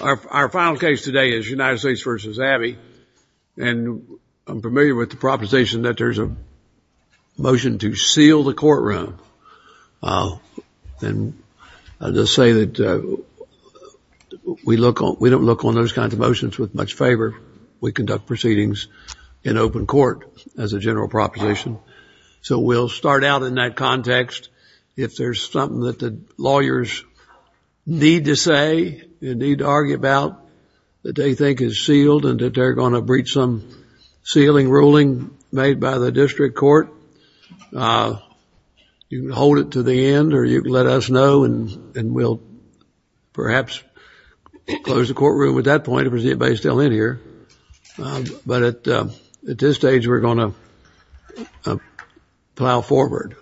Our final case today is United States v. Abney, and I'm familiar with the proposition that there's a motion to seal the courtroom, and I'll just say that we don't look on those kinds of motions with much favor. We conduct proceedings in open court, as a general proposition. So we'll start out in that context. If there's something that the lawyers need to say and need to argue about that they think is sealed and that they're going to breach some sealing ruling made by the district court, you can hold it to the end or you can let us know and we'll perhaps close the courtroom at that point if there's anybody still in here. But at this stage, we're going to plow forward.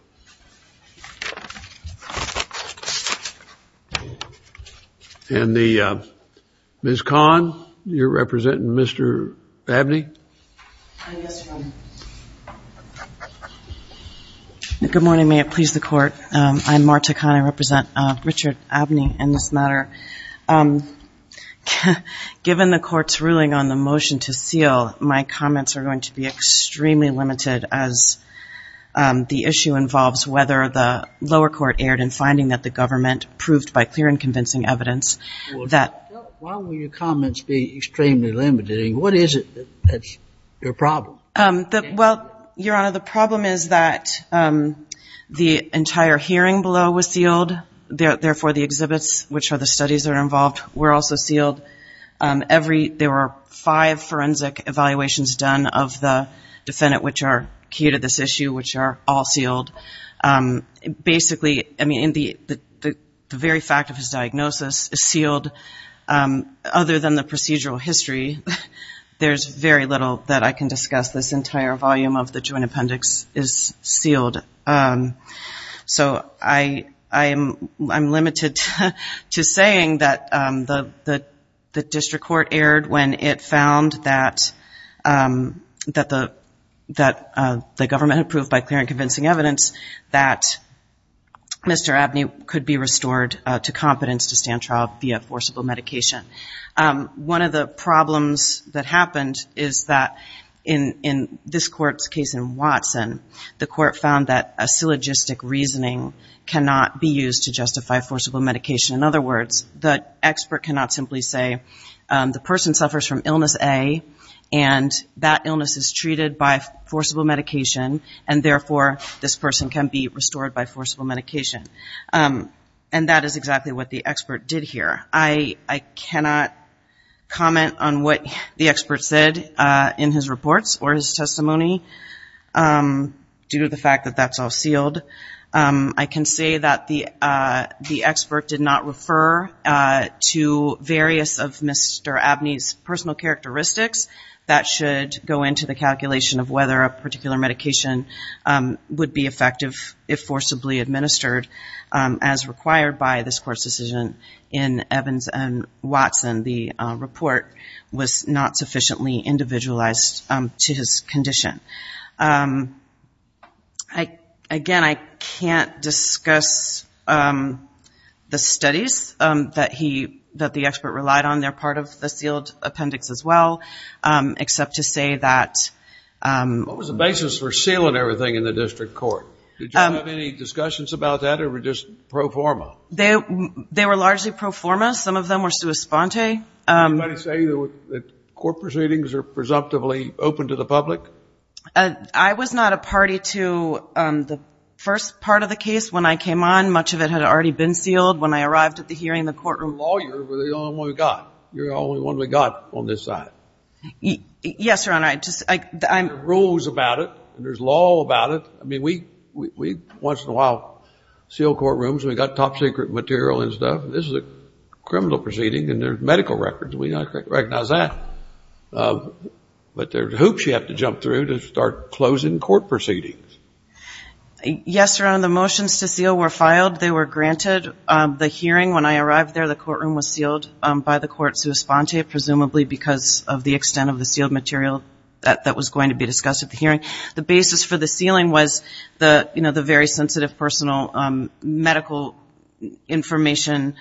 And Ms. Kahn, you're representing Mr. Abney? Good morning, may it please the court. I'm Marta Kahn. I represent Richard Abney in this matter. Given the court's ruling on the motion to seal, my comments are going to be extremely limited as the issue involves whether the lower court erred in finding that the government proved by clear and convincing evidence that... Why will your comments be extremely limited? What is it that's your problem? Well, Your Honor, the problem is that the entire hearing below was sealed, therefore the exhibits, which are the studies that are involved, were also sealed. There were five forensic evaluations done of the defendant, which are key to this issue, which are all sealed. Basically, the very fact of his diagnosis is sealed. Other than the procedural history, there's very little that I can discuss. This entire volume of the joint appendix is sealed. So I'm limited to saying that the district court erred when it found that the government had proved by clear and convincing evidence that Mr. Abney could be restored to competence to stand trial via forcible medication. One of the problems that happened is that in this court's Watson, the court found that a syllogistic reasoning cannot be used to justify forcible medication. In other words, the expert cannot simply say, the person suffers from illness A, and that illness is treated by forcible medication, and therefore this person can be restored by forcible medication. And that is exactly what the expert did here. I cannot comment on what the expert said in his reports or his testimony due to the fact that that's all sealed. I can say that the expert did not refer to various of Mr. Abney's personal characteristics that should go into the calculation of whether a particular medication would be effective if in Evans and Watson, the report was not sufficiently individualized to his condition. Again, I can't discuss the studies that the expert relied on. They're part of the sealed appendix as well, except to say that... What was the basis for sealing everything in pro-forma? They were largely pro-forma. Some of them were sua sponte. Did anybody say that court proceedings are presumptively open to the public? I was not a party to the first part of the case when I came on. Much of it had already been sealed. When I arrived at the hearing, the courtroom lawyer was the only one we got. You're the only one we got on this side. Yes, Your Honor. There are rules about it. There's law about it. We, once in a while, seal courtrooms. We've got top secret material and stuff. This is a criminal proceeding and there's medical records. We don't recognize that. But there's hoops you have to jump through to start closing court proceedings. Yes, Your Honor. The motions to seal were filed. They were granted. The hearing, when I arrived there, the courtroom was sealed by the court sua sponte, presumably because of the extent of the material that was going to be discussed at the hearing. The basis for the sealing was the very sensitive personal medical information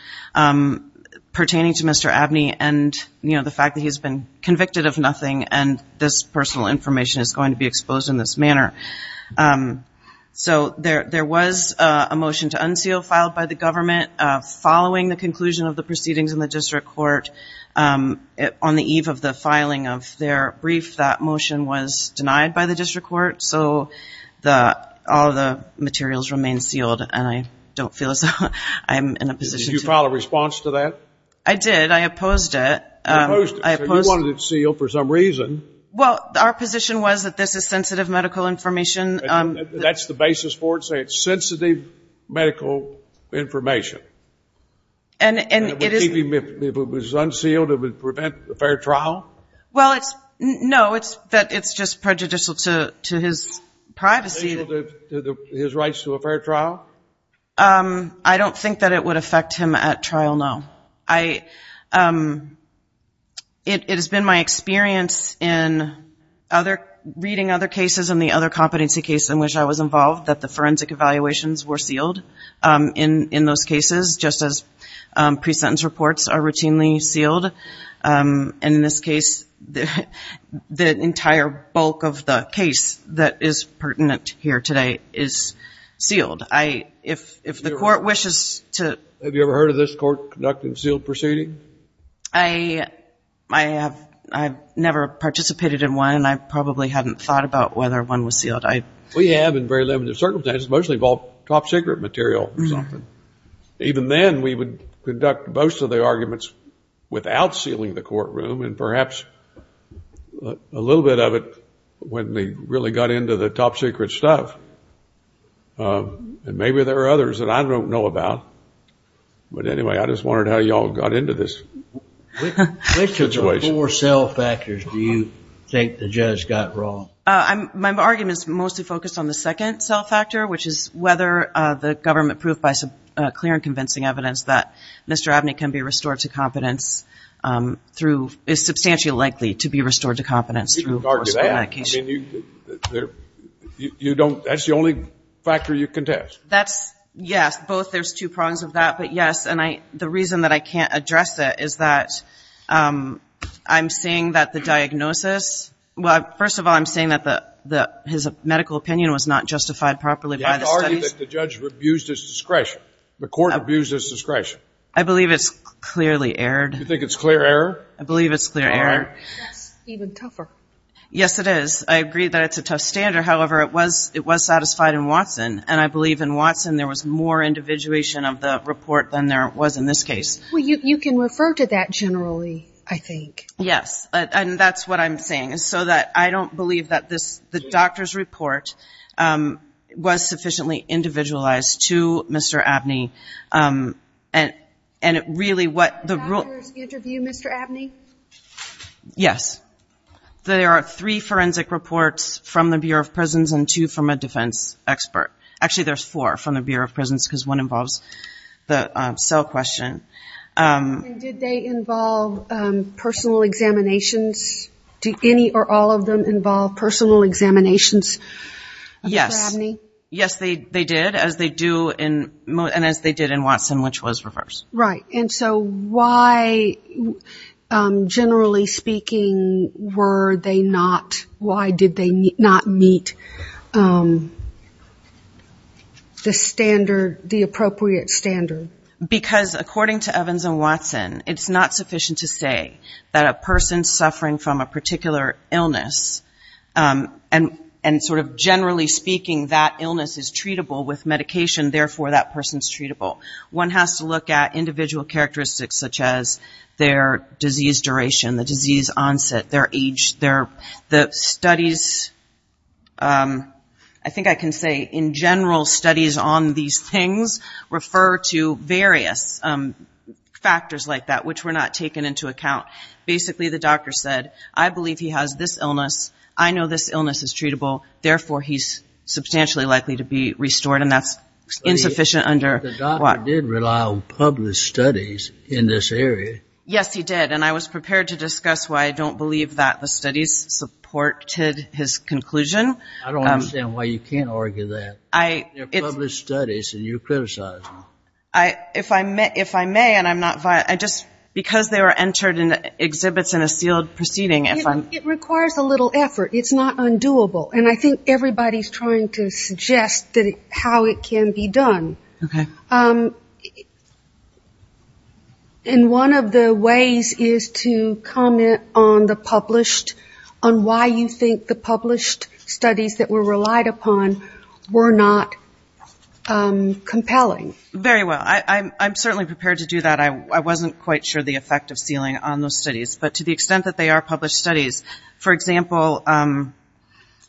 pertaining to Mr. Abney and the fact that he's been convicted of nothing and this personal information is going to be exposed in this manner. There was a motion to unseal filed by the government following the conclusion of the brief. That motion was denied by the district court, so all the materials remain sealed. You filed a response to that? I did. I opposed it. You wanted it sealed for some reason. Well, our position was that this is sensitive medical information. That's the basis for it? Say it's sensitive medical information? And if it was unsealed, it would prevent a fair trial? Well, no. It's just prejudicial to his privacy. His rights to a fair trial? I don't think that it would affect him at trial, no. It has been my experience in reading other cases and the other competency cases in which I was involved that the forensic evaluations were sealed in those cases, just as pre-sentence reports are routinely sealed. And in this case, the entire bulk of the case that is pertinent here today is sealed. If the court wishes to... Have you ever heard of this court conducting sealed proceedings? I've never participated in one and I probably hadn't thought about whether one was sealed. We have in very limited circumstances, mostly involved top secret material. Even then, we would conduct most of the arguments without sealing the courtroom and perhaps a little bit of it when they really got into the top secret stuff. And maybe there are others that I don't know about. But anyway, I just wondered how y'all got into this. Which of the four cell factors do you think the judge got wrong? My argument is mostly focused on the second cell factor, which is whether the government proved by clear and convincing evidence that Mr. Abney can be restored to competence through, is substantially likely to be restored to competence through... You don't argue that. I mean, that's the only factor you contest. That's, yes, both. There's two prongs of that, but yes. And the reason that I can't address that is that I'm saying that the diagnosis, well, first of all, I'm saying that his medical opinion was not justified properly by the studies. The judge abused his discretion. The court abused his discretion. I believe it's clearly errored. You think it's clear error? I believe it's clear error. All right. That's even tougher. Yes, it is. I agree that it's a tough standard. However, it was satisfied in Watson. And I believe in Watson, there was more individuation of the report than there was in this case. Well, you can refer to that generally, I think. Yes. And that's what I'm saying. So that I don't believe that the doctor's report was sufficiently individualized to Mr. Abney. And it really... The doctor's interview, Mr. Abney? Yes. There are three forensic reports from the Bureau of Prisons and two from a defense expert. Actually, there's four from the Bureau of Prisons because one involves the cell question. And did they involve personal examinations? Do any or all of them involve personal examinations of Mr. Abney? Yes, they did, as they do in... And as they did in Watson, which was reversed. Right. And so why, generally speaking, were they not... Why did they not meet the standard, the appropriate standard? Because according to Evans and Watson, it's not sufficient to say that a person suffering from a particular illness, and sort of generally speaking, that illness is treatable with medication, therefore that person's treatable. One has to look at individual characteristics, such as their disease duration, the disease onset, their age, their... The studies... I think I can say, in general, studies on these things refer to various factors like that, which were not taken into account. Basically, the doctor said, I believe he has this illness. I know this illness is treatable. Therefore, he's substantially likely to be restored. And that's insufficient under... The doctor did rely on published studies in this area. Yes, he did. And I was prepared to discuss why I don't believe that the studies supported his conclusion. I don't understand why you can't argue that. They're published studies, and you're criticizing. If I may, and I'm not... Because they were entered in exhibits in a sealed proceeding, if I'm... It requires a little effort. It's not undoable. And I think everybody's trying to suggest how it can be done. Okay. And one of the ways is to comment on the published... On why you think the published studies that were relied upon were not compelling. Very well. I'm certainly prepared to do that. I wasn't quite sure the effect of sealing on those studies. But to the extent that they are published studies, for example...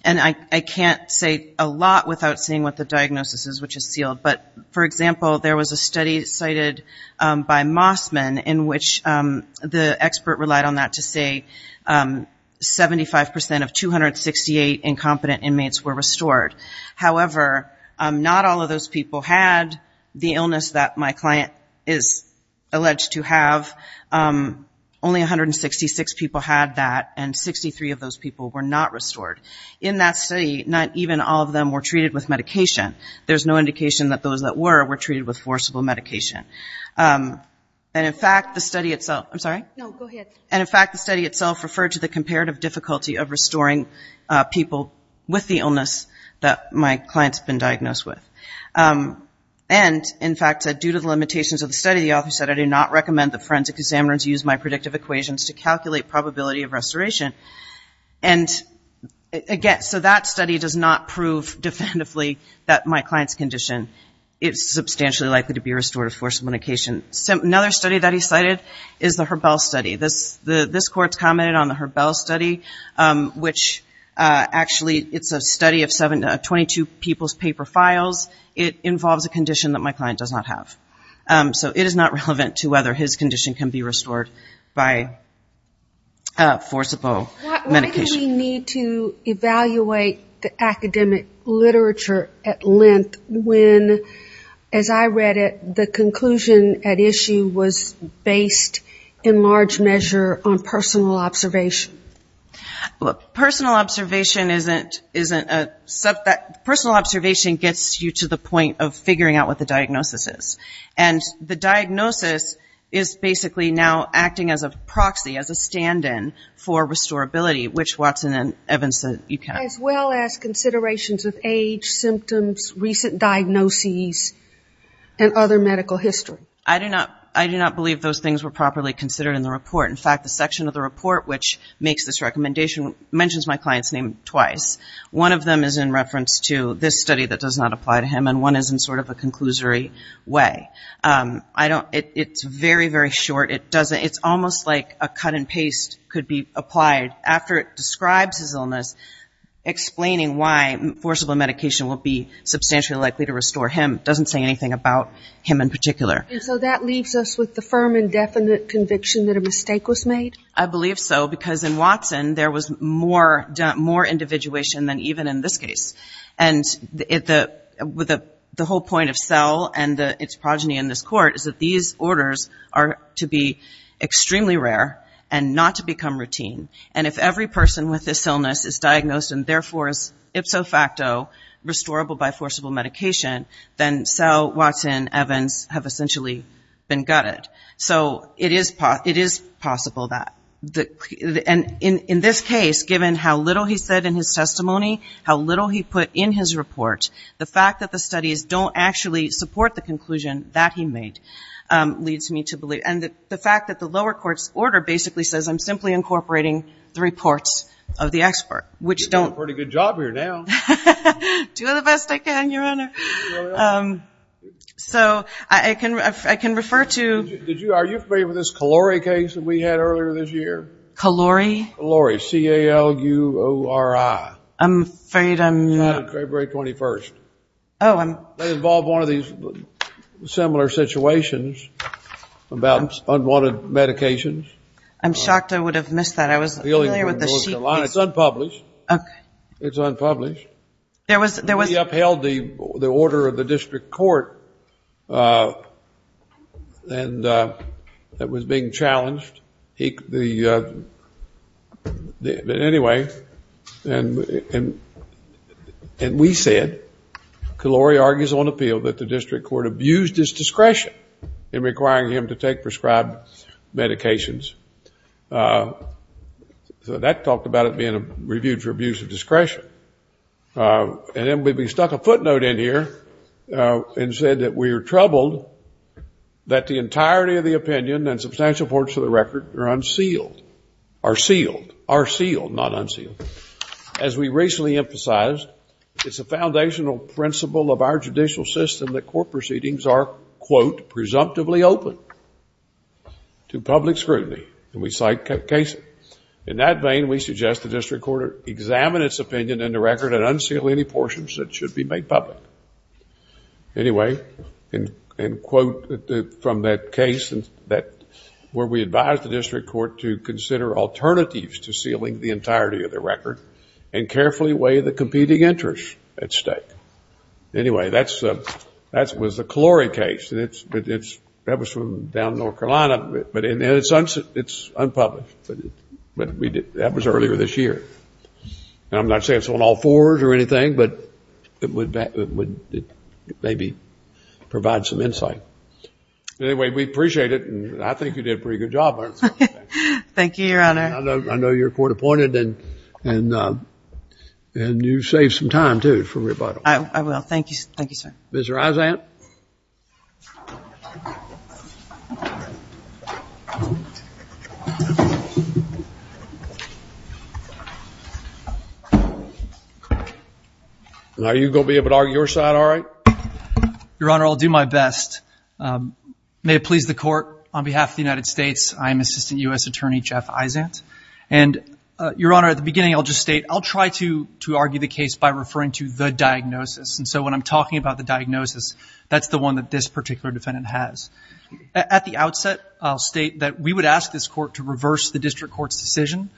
And I can't say a lot without saying what the diagnosis is, which is sealed. But for example, there was a study cited by Mossman, in which the expert relied on that to say 75% of 268 incompetent inmates were restored. However, not all of those people had the illness that my client is alleged to have. Only 166 people had that, and 63 of those people were not restored. In that study, not even all of them were treated with medication. There's no indication that those that were, were treated with forcible medication. And in fact, the study itself... I'm sorry? No, go ahead. And in fact, the study itself referred to the comparative difficulty of restoring people with the illness that my client's been diagnosed with. And in fact, due to the limitations of the study, the author said, I do not recommend that forensic examiners use my predictive equations to calculate probability of restoration. And again, so that study does not prove definitively that my client's condition is substantially likely to be restored with forcible medication. Another study that he cited is the Herbell study. This court's commented on the Herbell study, which actually, it's a study of 22 people's paper files. It involves a condition that my client does not have. So it is not relevant to whether his condition can be restored by forcible medication. Why did we need to evaluate the academic literature at length when, as I read it, the conclusion at issue was based in large measure on personal observation? Personal observation isn't a subject... Personal observation gets you to the point of figuring out what the diagnosis is. And the diagnosis is basically now acting as a proxy, as a stand-in for restorability, which Watson and Evans said you can. As well as considerations of age, symptoms, recent diagnoses, and other medical history. I do not believe those things were properly considered in the report. In fact, the section of the report which makes this recommendation mentions my client's name twice. One of them is in reference to this study that does not apply to him, and one is in sort of a conclusory way. It's very, very short. It's almost like a cut and paste could be applied after it describes his illness, explaining why forcible medication would be substantially likely to restore him. It doesn't say anything about him in particular. And so that leaves us with the firm and definite conviction that a mistake was made? I believe so, because in Watson there was more individuation than even in this case. And the whole point of Cell and its progeny in this court is that these orders are to be extremely rare and not to become routine. And if every person with this illness is diagnosed and therefore is ipso facto restorable by forcible medication, then Cell, Watson, Evans have essentially been gutted. So it is possible that. And in this case, given how little he said in his testimony, how little he put in his report, the fact that the studies don't actually support the conclusion that he made leads me to believe. And the fact that the lower court's order basically says I'm simply incorporating the reports of the expert, which don't... You're doing a pretty good job here now. Do the best I can, Your Honor. So I can refer to... Are you familiar with this Calori case that we had earlier this year? Calori? Calori, C-A-L-U-O-R-I. I'm afraid I'm not. January 21st. Oh, I'm... They involve one of these similar situations about unwanted medications. I'm shocked I would have missed that. I was familiar with the sheet. It's unpublished. Okay. It's unpublished. There was... He upheld the order of the district court and that was being challenged. Anyway, and we said, Calori argues on appeal that the district court abused his discretion in requiring him to take prescribed medications. So that talked about it being a review for abuse of discretion. And then we stuck a footnote in here and said that we are troubled that the entirety of the opinion and substantial portion of the record are unsealed, are sealed, are sealed, not unsealed. As we recently emphasized, it's a foundational principle of our judicial system that court presumptively open to public scrutiny. And we cite Casey. In that vein, we suggest the district court examine its opinion in the record and unseal any portions that should be made public. Anyway, and quote from that case where we advised the district court to consider alternatives to sealing the entirety of the record and carefully weigh the competing interest at stake. Anyway, that was the Calori case. That was from down in North Carolina, but it's unpublished. But that was earlier this year. And I'm not saying it's on all fours or anything, but it would maybe provide some insight. Anyway, we appreciate it and I think you did a pretty good job. Thank you, Your Honor. I know you're court appointed and you saved some time too for rebuttal. I will. Thank you. Thank you, sir. Mr. Aizant. Are you going to be able to argue your side all right? Your Honor, I'll do my best. May it please the court, on behalf of the United States, I'm Assistant U.S. Attorney Jeff Aizant. And Your Honor, at the beginning, I'll just state, I'll try to argue the case by referring to the diagnosis. And so when I'm talking about the diagnosis, that's the one that this particular defendant has. At the outset, I'll state that we would ask this court to reverse the district court's decision,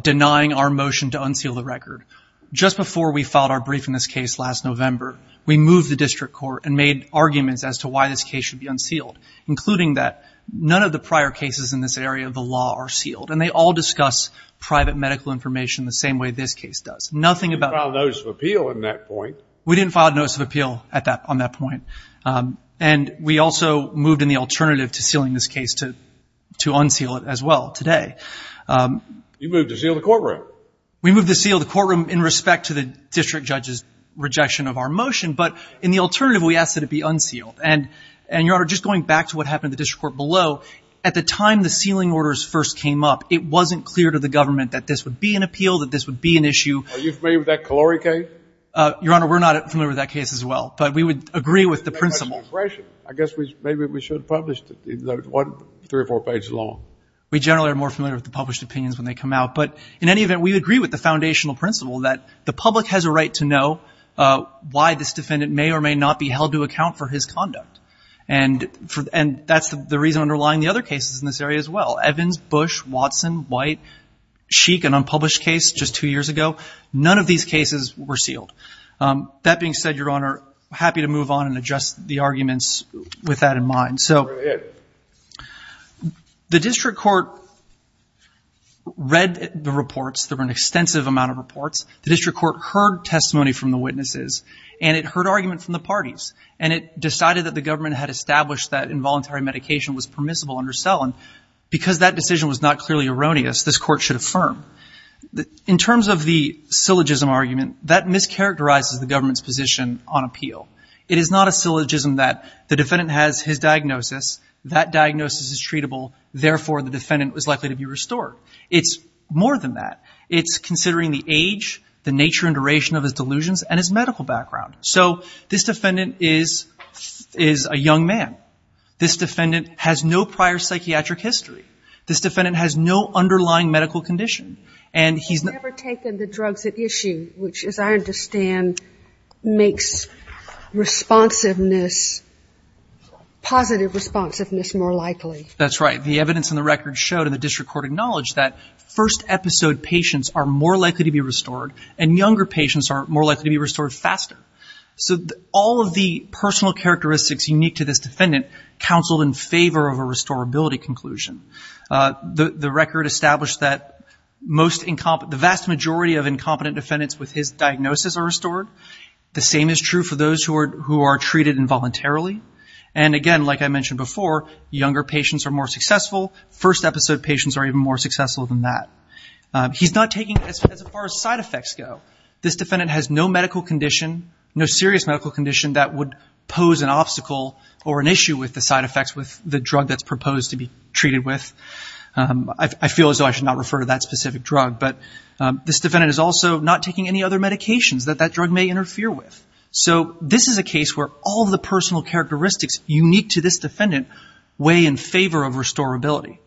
denying our motion to unseal the record. Just before we filed our brief in this case last November, we moved the district court and made arguments as to why this case should be unsealed, including that none of the prior cases in this area of the law are sealed. And they all discuss private medical information the same way this case does. Nothing about- You filed a notice of appeal at that point. We didn't file a notice of appeal on that point. And we also moved in the alternative to sealing this case to unseal it as well today. You moved to seal the courtroom. We moved to seal the courtroom in respect to the district judge's rejection of our motion. But in the alternative, we asked that it be unsealed. And Your Honor, just going back to what happened in the district court below, at the time the sealing orders first came up, it wasn't clear to the government that this would be an appeal, that this would be an issue. Are you familiar with that Calori case? Your Honor, we're not familiar with that case as well. But we would agree with the principle- I guess maybe we should have published it, three or four pages long. We generally are more familiar with the published opinions when they come out. But in any event, we agree with the foundational principle that the public has a right to know why this defendant may or may not be held to account for his conduct. And that's the reason underlying the other cases in this area as well. Evans, Bush, Watson, White, Sheik, an unpublished case just two years ago. None of these cases were sealed. That being said, Your Honor, happy to move on and adjust the arguments with that in mind. So, the district court read the reports. There were an extensive amount of reports. The district court heard testimony from the witnesses. And it heard argument from the parties. And it decided that the government had established that involuntary medication was permissible under Selin. Because that decision was not clearly erroneous, this court should affirm. In terms of the syllogism argument, that mischaracterizes the government's position on appeal. It is not a syllogism that the defendant has his diagnosis. That diagnosis is treatable. Therefore, the defendant was likely to be restored. It's more than that. It's considering the age, the nature and duration of his delusions, and his medical background. So, this defendant is a young man. This defendant has no prior psychiatric history. This defendant has no underlying medical condition. And he's never taken the drugs at issue. Which, as I understand, makes responsiveness, positive responsiveness, more likely. That's right. The evidence in the record showed, and the district court acknowledged, that first episode patients are more likely to be restored. And younger patients are more likely to be restored faster. So, all of the personal characteristics unique to this defendant counseled in favor of a restorability conclusion. The record established that the vast majority of incompetent defendants with his diagnosis are restored. The same is true for those who are treated involuntarily. And again, like I mentioned before, younger patients are more successful. First episode patients are even more successful than that. He's not taking it as far as side effects go. This defendant has no medical condition, no serious medical condition that would pose an obstacle or an issue with the side effects with the drug that's proposed to be treated with. I feel as though I should not refer to that specific drug. But this defendant is also not taking any other medications that that drug may interfere with. So, this is a case where all the personal characteristics unique to this defendant weigh in favor of restorability.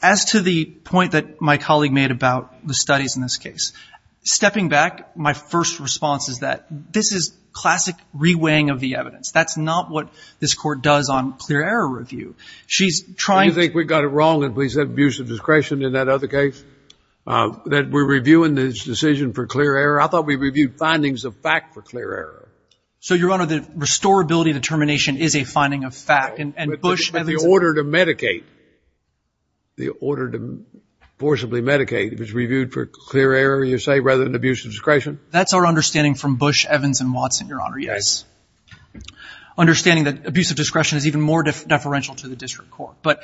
As to the point that my colleague made about the studies in this case, stepping back, my first response is that this is classic re-weighing of the evidence. That's not what this Court does on clear error review. She's trying to— Do you think we got it wrong, and please have abuse of discretion in that other case, that we're reviewing this decision for clear error? I thought we reviewed findings of fact for clear error. So, Your Honor, the restorability determination is a finding of fact. No, but the order to medicate, the order to forcibly medicate, was reviewed for clear error, you say, rather than abuse of discretion? That's our understanding from Bush, Evans, and Watson, Your Honor, yes. Understanding that abuse of discretion is even more deferential to the district court. But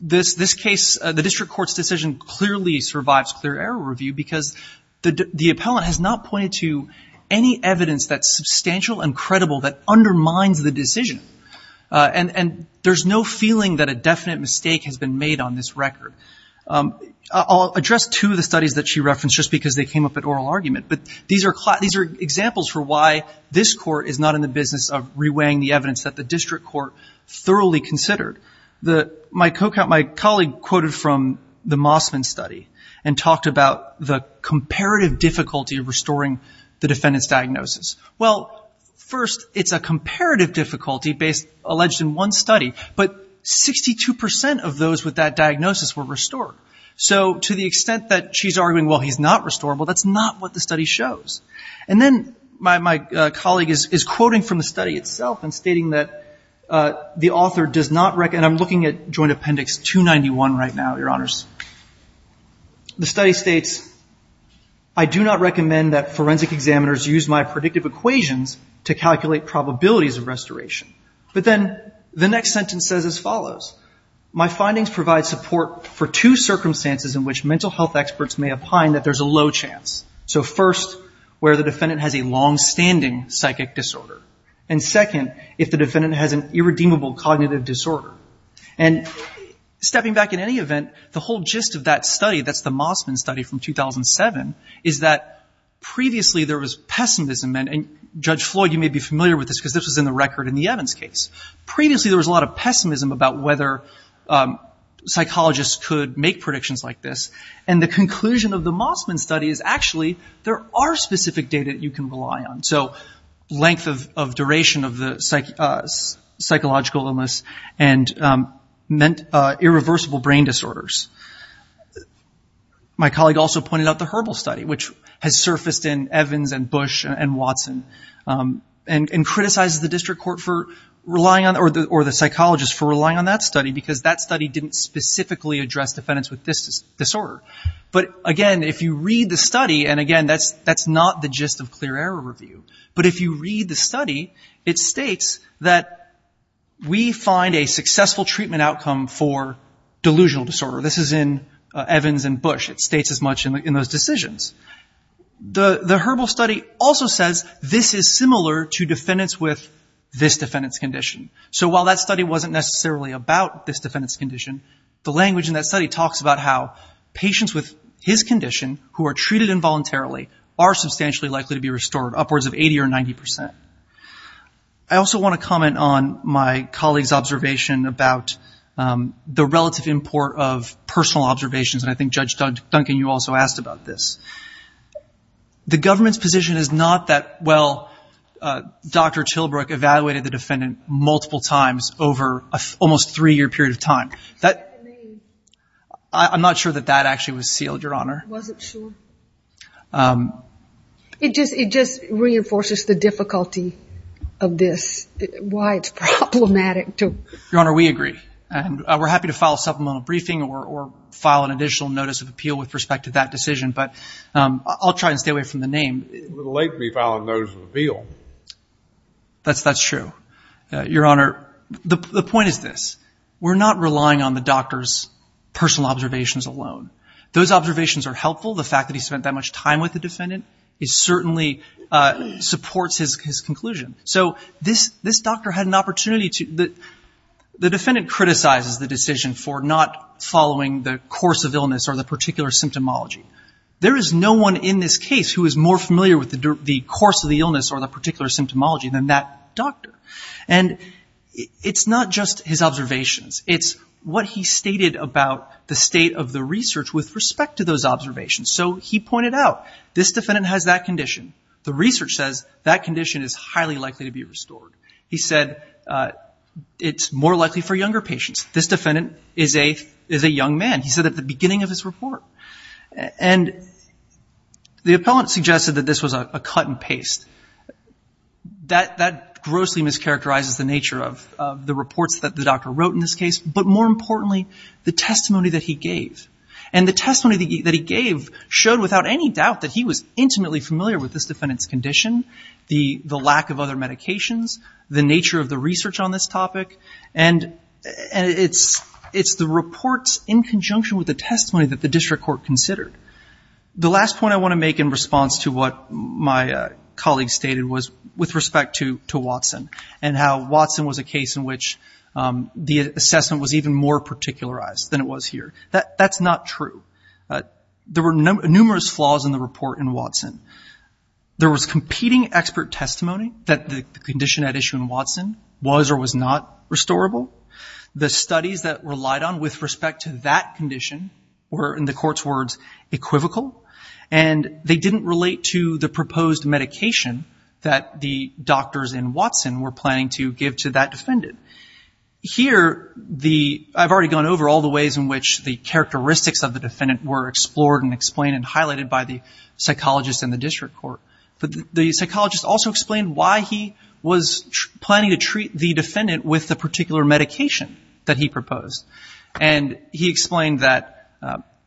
this case, the district court's decision clearly survives clear error review because the appellant has not pointed to any evidence that's substantial and credible that undermines the decision. And there's no feeling that a definite mistake has been made on this record. I'll address two of the studies that she referenced just because they came up at oral argument, but these are examples for why this Court is not in the business of reweighing the evidence that the district court thoroughly considered. My colleague quoted from the Mossman study and talked about the comparative difficulty of restoring the defendant's diagnosis. Well, first, it's a comparative difficulty alleged in one study, but 62 percent of those with that diagnosis were restored. So to the extent that she's arguing, well, he's not restorable, that's not what the study shows. And then my colleague is quoting from the study itself and stating that the author does not—and I'm looking at Joint Appendix 291 right now, Your Honors—the study states, I do not recommend that forensic examiners use my predictive equations to calculate probabilities of restoration. But then the next sentence says as follows, my findings provide support for two circumstances in which mental health experts may opine that there's a low chance. So first, where the defendant has a longstanding psychic disorder. And second, if the defendant has an irredeemable cognitive disorder. And stepping back, in any event, the whole gist of that study, that's the Mossman study from 2007, is that previously there was pessimism. And Judge Floyd, you may be familiar with this because this was in the record in the Evans case. Previously there was a lot of pessimism about whether psychologists could make predictions like this. And the conclusion of the Mossman study is actually there are specific data that you can rely on. So length of duration of the psychological illness and irreversible brain disorders. My colleague also pointed out the Herbal study, which has surfaced in Evans and Bush and Watson, and criticized the district court for relying on, or the psychologist for relying on that study because that study didn't specifically address defendants with this disorder. But again, if you read the study, and again, that's not the gist of clear error review. But if you read the study, it states that we find a successful treatment outcome for delusional disorder. This is in Evans and Bush. It states as much in those decisions. The Herbal study also says this is similar to defendants with this defendant's condition. So while that study wasn't necessarily about this defendant's condition, the language in that study talks about how patients with his condition who are treated involuntarily are substantially likely to be restored, upwards of 80 or 90 percent. I also want to comment on my colleague's observation about the relative import of personal observations. I think Judge Duncan, you also asked about this. The government's position is not that, well, Dr. Tillbrook evaluated the defendant multiple times over almost a three-year period of time. I'm not sure that that actually was sealed, Your Honor. I wasn't sure. It just reinforces the difficulty of this, why it's problematic. Your Honor, we agree. We're happy to file a supplemental briefing or file an additional notice of appeal with respect to that decision, but I'll try and stay away from the name. It would be a little late to be filing a notice of appeal. That's true. Your Honor, the point is this. We're not relying on the doctor's personal observations alone. Those observations are helpful. The fact that he spent that much time with the defendant, it certainly supports his conclusion. This doctor had an opportunity to... The defendant criticizes the decision for not following the course of illness or the particular symptomology. There is no one in this case who is more familiar with the course of the illness or the particular symptomology than that doctor. It's not just his observations. It's what he stated about the state of the research with respect to those observations. He pointed out, this defendant has that condition. The research says that condition is highly likely to be restored. He said it's more likely for younger patients. This defendant is a young man. He said at the beginning of his report. And the appellant suggested that this was a cut and paste. That grossly mischaracterizes the nature of the reports that the doctor wrote in this case, but more importantly, the testimony that he gave. And the testimony that he gave showed without any doubt that he was intimately familiar with this defendant's condition, the lack of other medications, the nature of the research on this topic, and it's the reports in conjunction with the testimony that the district court considered. The last point I want to make in response to what my colleague stated was with respect to Watson and how Watson was a case in which the assessment was even more particularized than it was here. That's not true. There were numerous flaws in the report in Watson. There was competing expert testimony that the condition at issue in Watson was or was not restorable. The studies that relied on with respect to that condition were, in the court's words, equivocal. And they didn't relate to the proposed medication that the doctors in Watson were planning to give to that defendant. Here, I've already gone over all the ways in which the characteristics of the defendant were explored and explained and highlighted by the psychologist and the district court. But the psychologist also explained why he was planning to treat the defendant with the particular medication that he proposed. And he explained that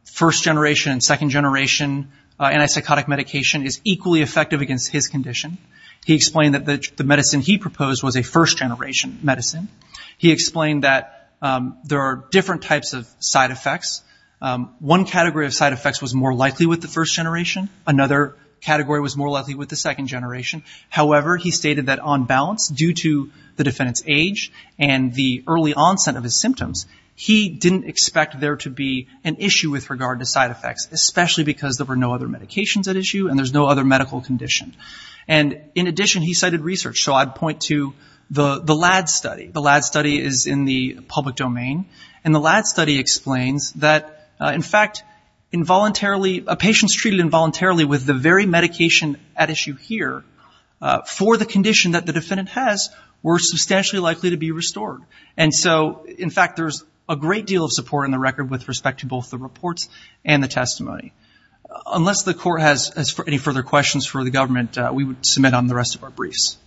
first-generation and second-generation antipsychotic medication is equally effective against his condition. He explained that the medicine he proposed was a first-generation medicine. He explained that there are different types of side effects. One category of side effects was more likely with the first generation. Another category was more likely with the second generation. However, he stated that on balance, due to the defendant's age and the early onset of his symptoms, he didn't expect there to be an issue with regard to side effects, especially because there were no other medications at issue and there's no other medical condition. And in addition, he cited research. So I'd point to the LAD study. The LAD study is in the public domain. And the LAD study explains that, in fact, involuntarily, a patient's treated involuntarily with the very medication at issue here for the condition that the defendant has were substantially likely to be restored. And so, in fact, there's a great deal of support in the record with respect to both the reports and the testimony. Unless the court has any further questions for the government, we would submit on the rest of our briefs.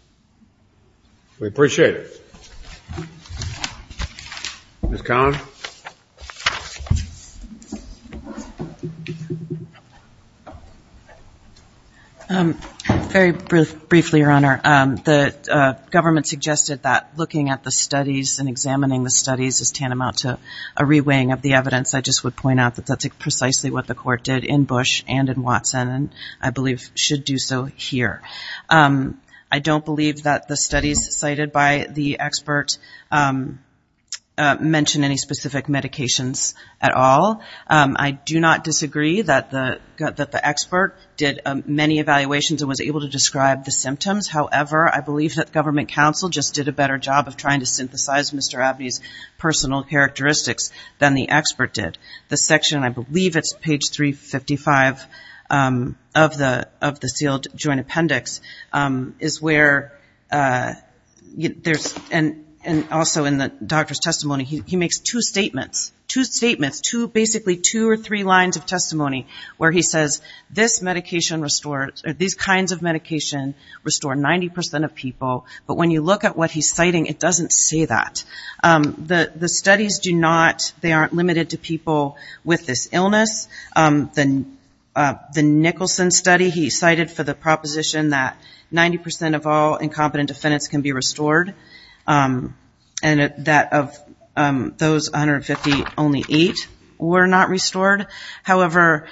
We appreciate it. Ms. Collins? Very briefly, Your Honor. The government suggested that looking at the studies and examining the studies is tantamount to a re-weighing of the evidence. I just would point out that that's precisely what the court did in Bush and in Watson, and I believe should do so here. I don't believe that the studies cited by the expert mention any specific medications at all. I do not disagree that the expert did many evaluations and was able to describe the symptoms. However, I believe that government counsel just did a better job of trying to synthesize Mr. Abney's personal characteristics than the expert did. The section, I believe it's page 355 of the sealed joint appendix, is where there's – and also in the doctor's testimony, he makes two statements. Two statements. Basically two or three lines of testimony where he says, these kinds of medication restore 90 percent of people. But when you look at what he's citing, it doesn't say that. The studies do not – they aren't limited to people with this illness. The Nicholson study, he cited for the proposition that 90 percent of all incompetent defendants can be restored, and that of those 150, only eight were not restored. However,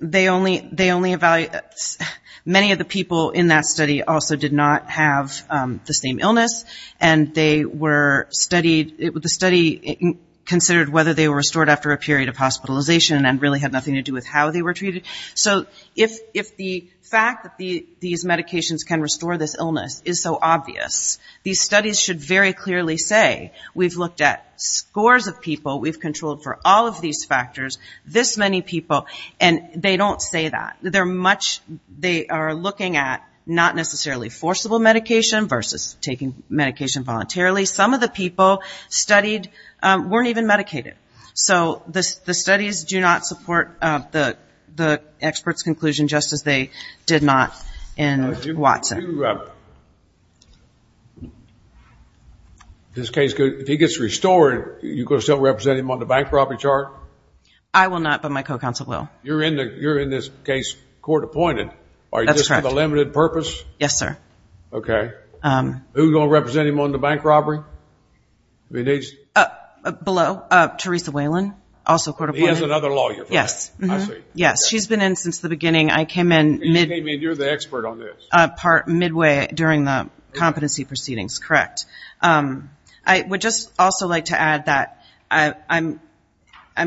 they only – many of the people in that study also did not have the same illness, and they were studied – the study considered whether they were restored after a period of hospitalization and really had nothing to do with how they were treated. So if the fact that these medications can restore this illness is so obvious, these all of these factors, this many people, and they don't say that. They're much – they are looking at not necessarily forcible medication versus taking medication voluntarily. Some of the people studied weren't even medicated. So the studies do not support the expert's conclusion, just as they did not in Watson. Do you – this case, if he gets restored, you're going to still represent him on the bank robbery chart? I will not, but my co-counsel will. You're in the – you're in this case court-appointed. Are you just for the limited purpose? Yes, sir. Okay. Who's going to represent him on the bank robbery? Below. Teresa Whalen, also court-appointed. He has another lawyer for that. Yes. Yes, she's been in since the beginning. I came in mid- You came in – you're the expert on this. Part midway during the competency proceedings, correct. I would just also like to add that I'm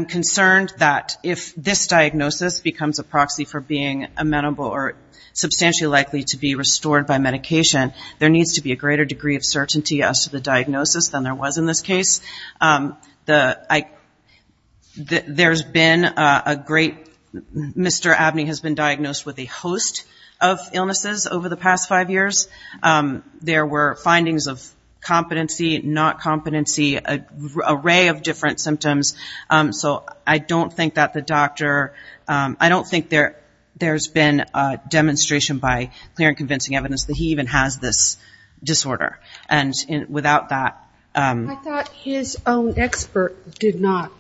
concerned that if this diagnosis becomes a proxy for being amenable or substantially likely to be restored by medication, there needs to be a greater degree of certainty as to the diagnosis than there was in this case. The – there's been a great – Mr. Abney has been diagnosed with a host of illnesses over the past five years. There were findings of competency, not competency, an array of different symptoms. So I don't think that the doctor – I don't think there's been a demonstration by clear and convincing evidence that he even has this disorder. And without that – I thought his own expert did not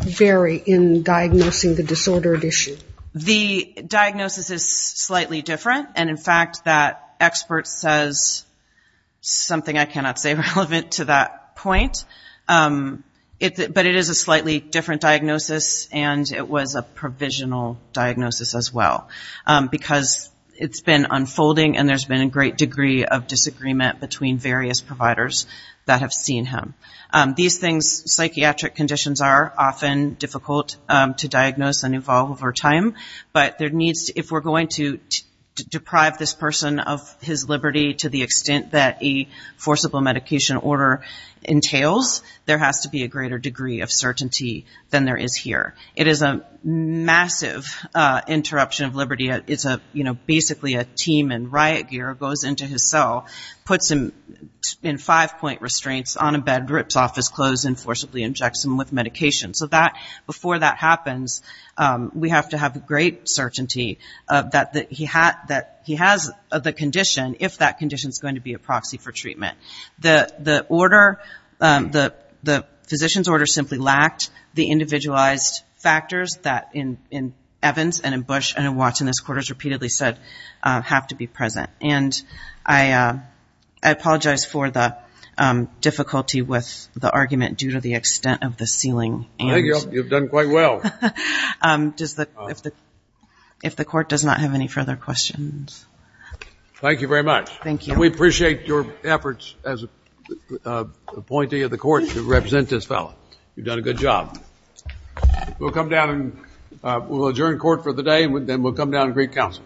vary in diagnosing the disordered issue. The diagnosis is slightly different. And in fact, that expert says something I cannot say relevant to that point. But it is a slightly different diagnosis and it was a provisional diagnosis as well. Because it's been unfolding and there's been a great degree of disagreement between various providers that have seen him. These things – psychiatric conditions are often difficult to diagnose and evolve over time. But there needs – if we're going to deprive this person of his liberty to the extent that a forcible medication order entails, there has to be a greater degree of certainty than there is here. It is a massive interruption of liberty. It's basically a team in riot gear goes into his cell, puts him in five-point restraints on a bed, rips off his clothes and forcibly injects him with medication. So that – before that happens, we have to have great certainty that he has the condition if that condition is going to be a proxy for treatment. The order – the physician's order simply lacked the individualized factors that in this case the court has repeatedly said have to be present. And I apologize for the difficulty with the argument due to the extent of the ceiling. Thank you. You've done quite well. If the court does not have any further questions. Thank you very much. Thank you. We appreciate your efforts as appointee of the court to represent this fellow. You've done a good job. We'll come down and we'll adjourn court for the day and then we'll come down and greet counsel.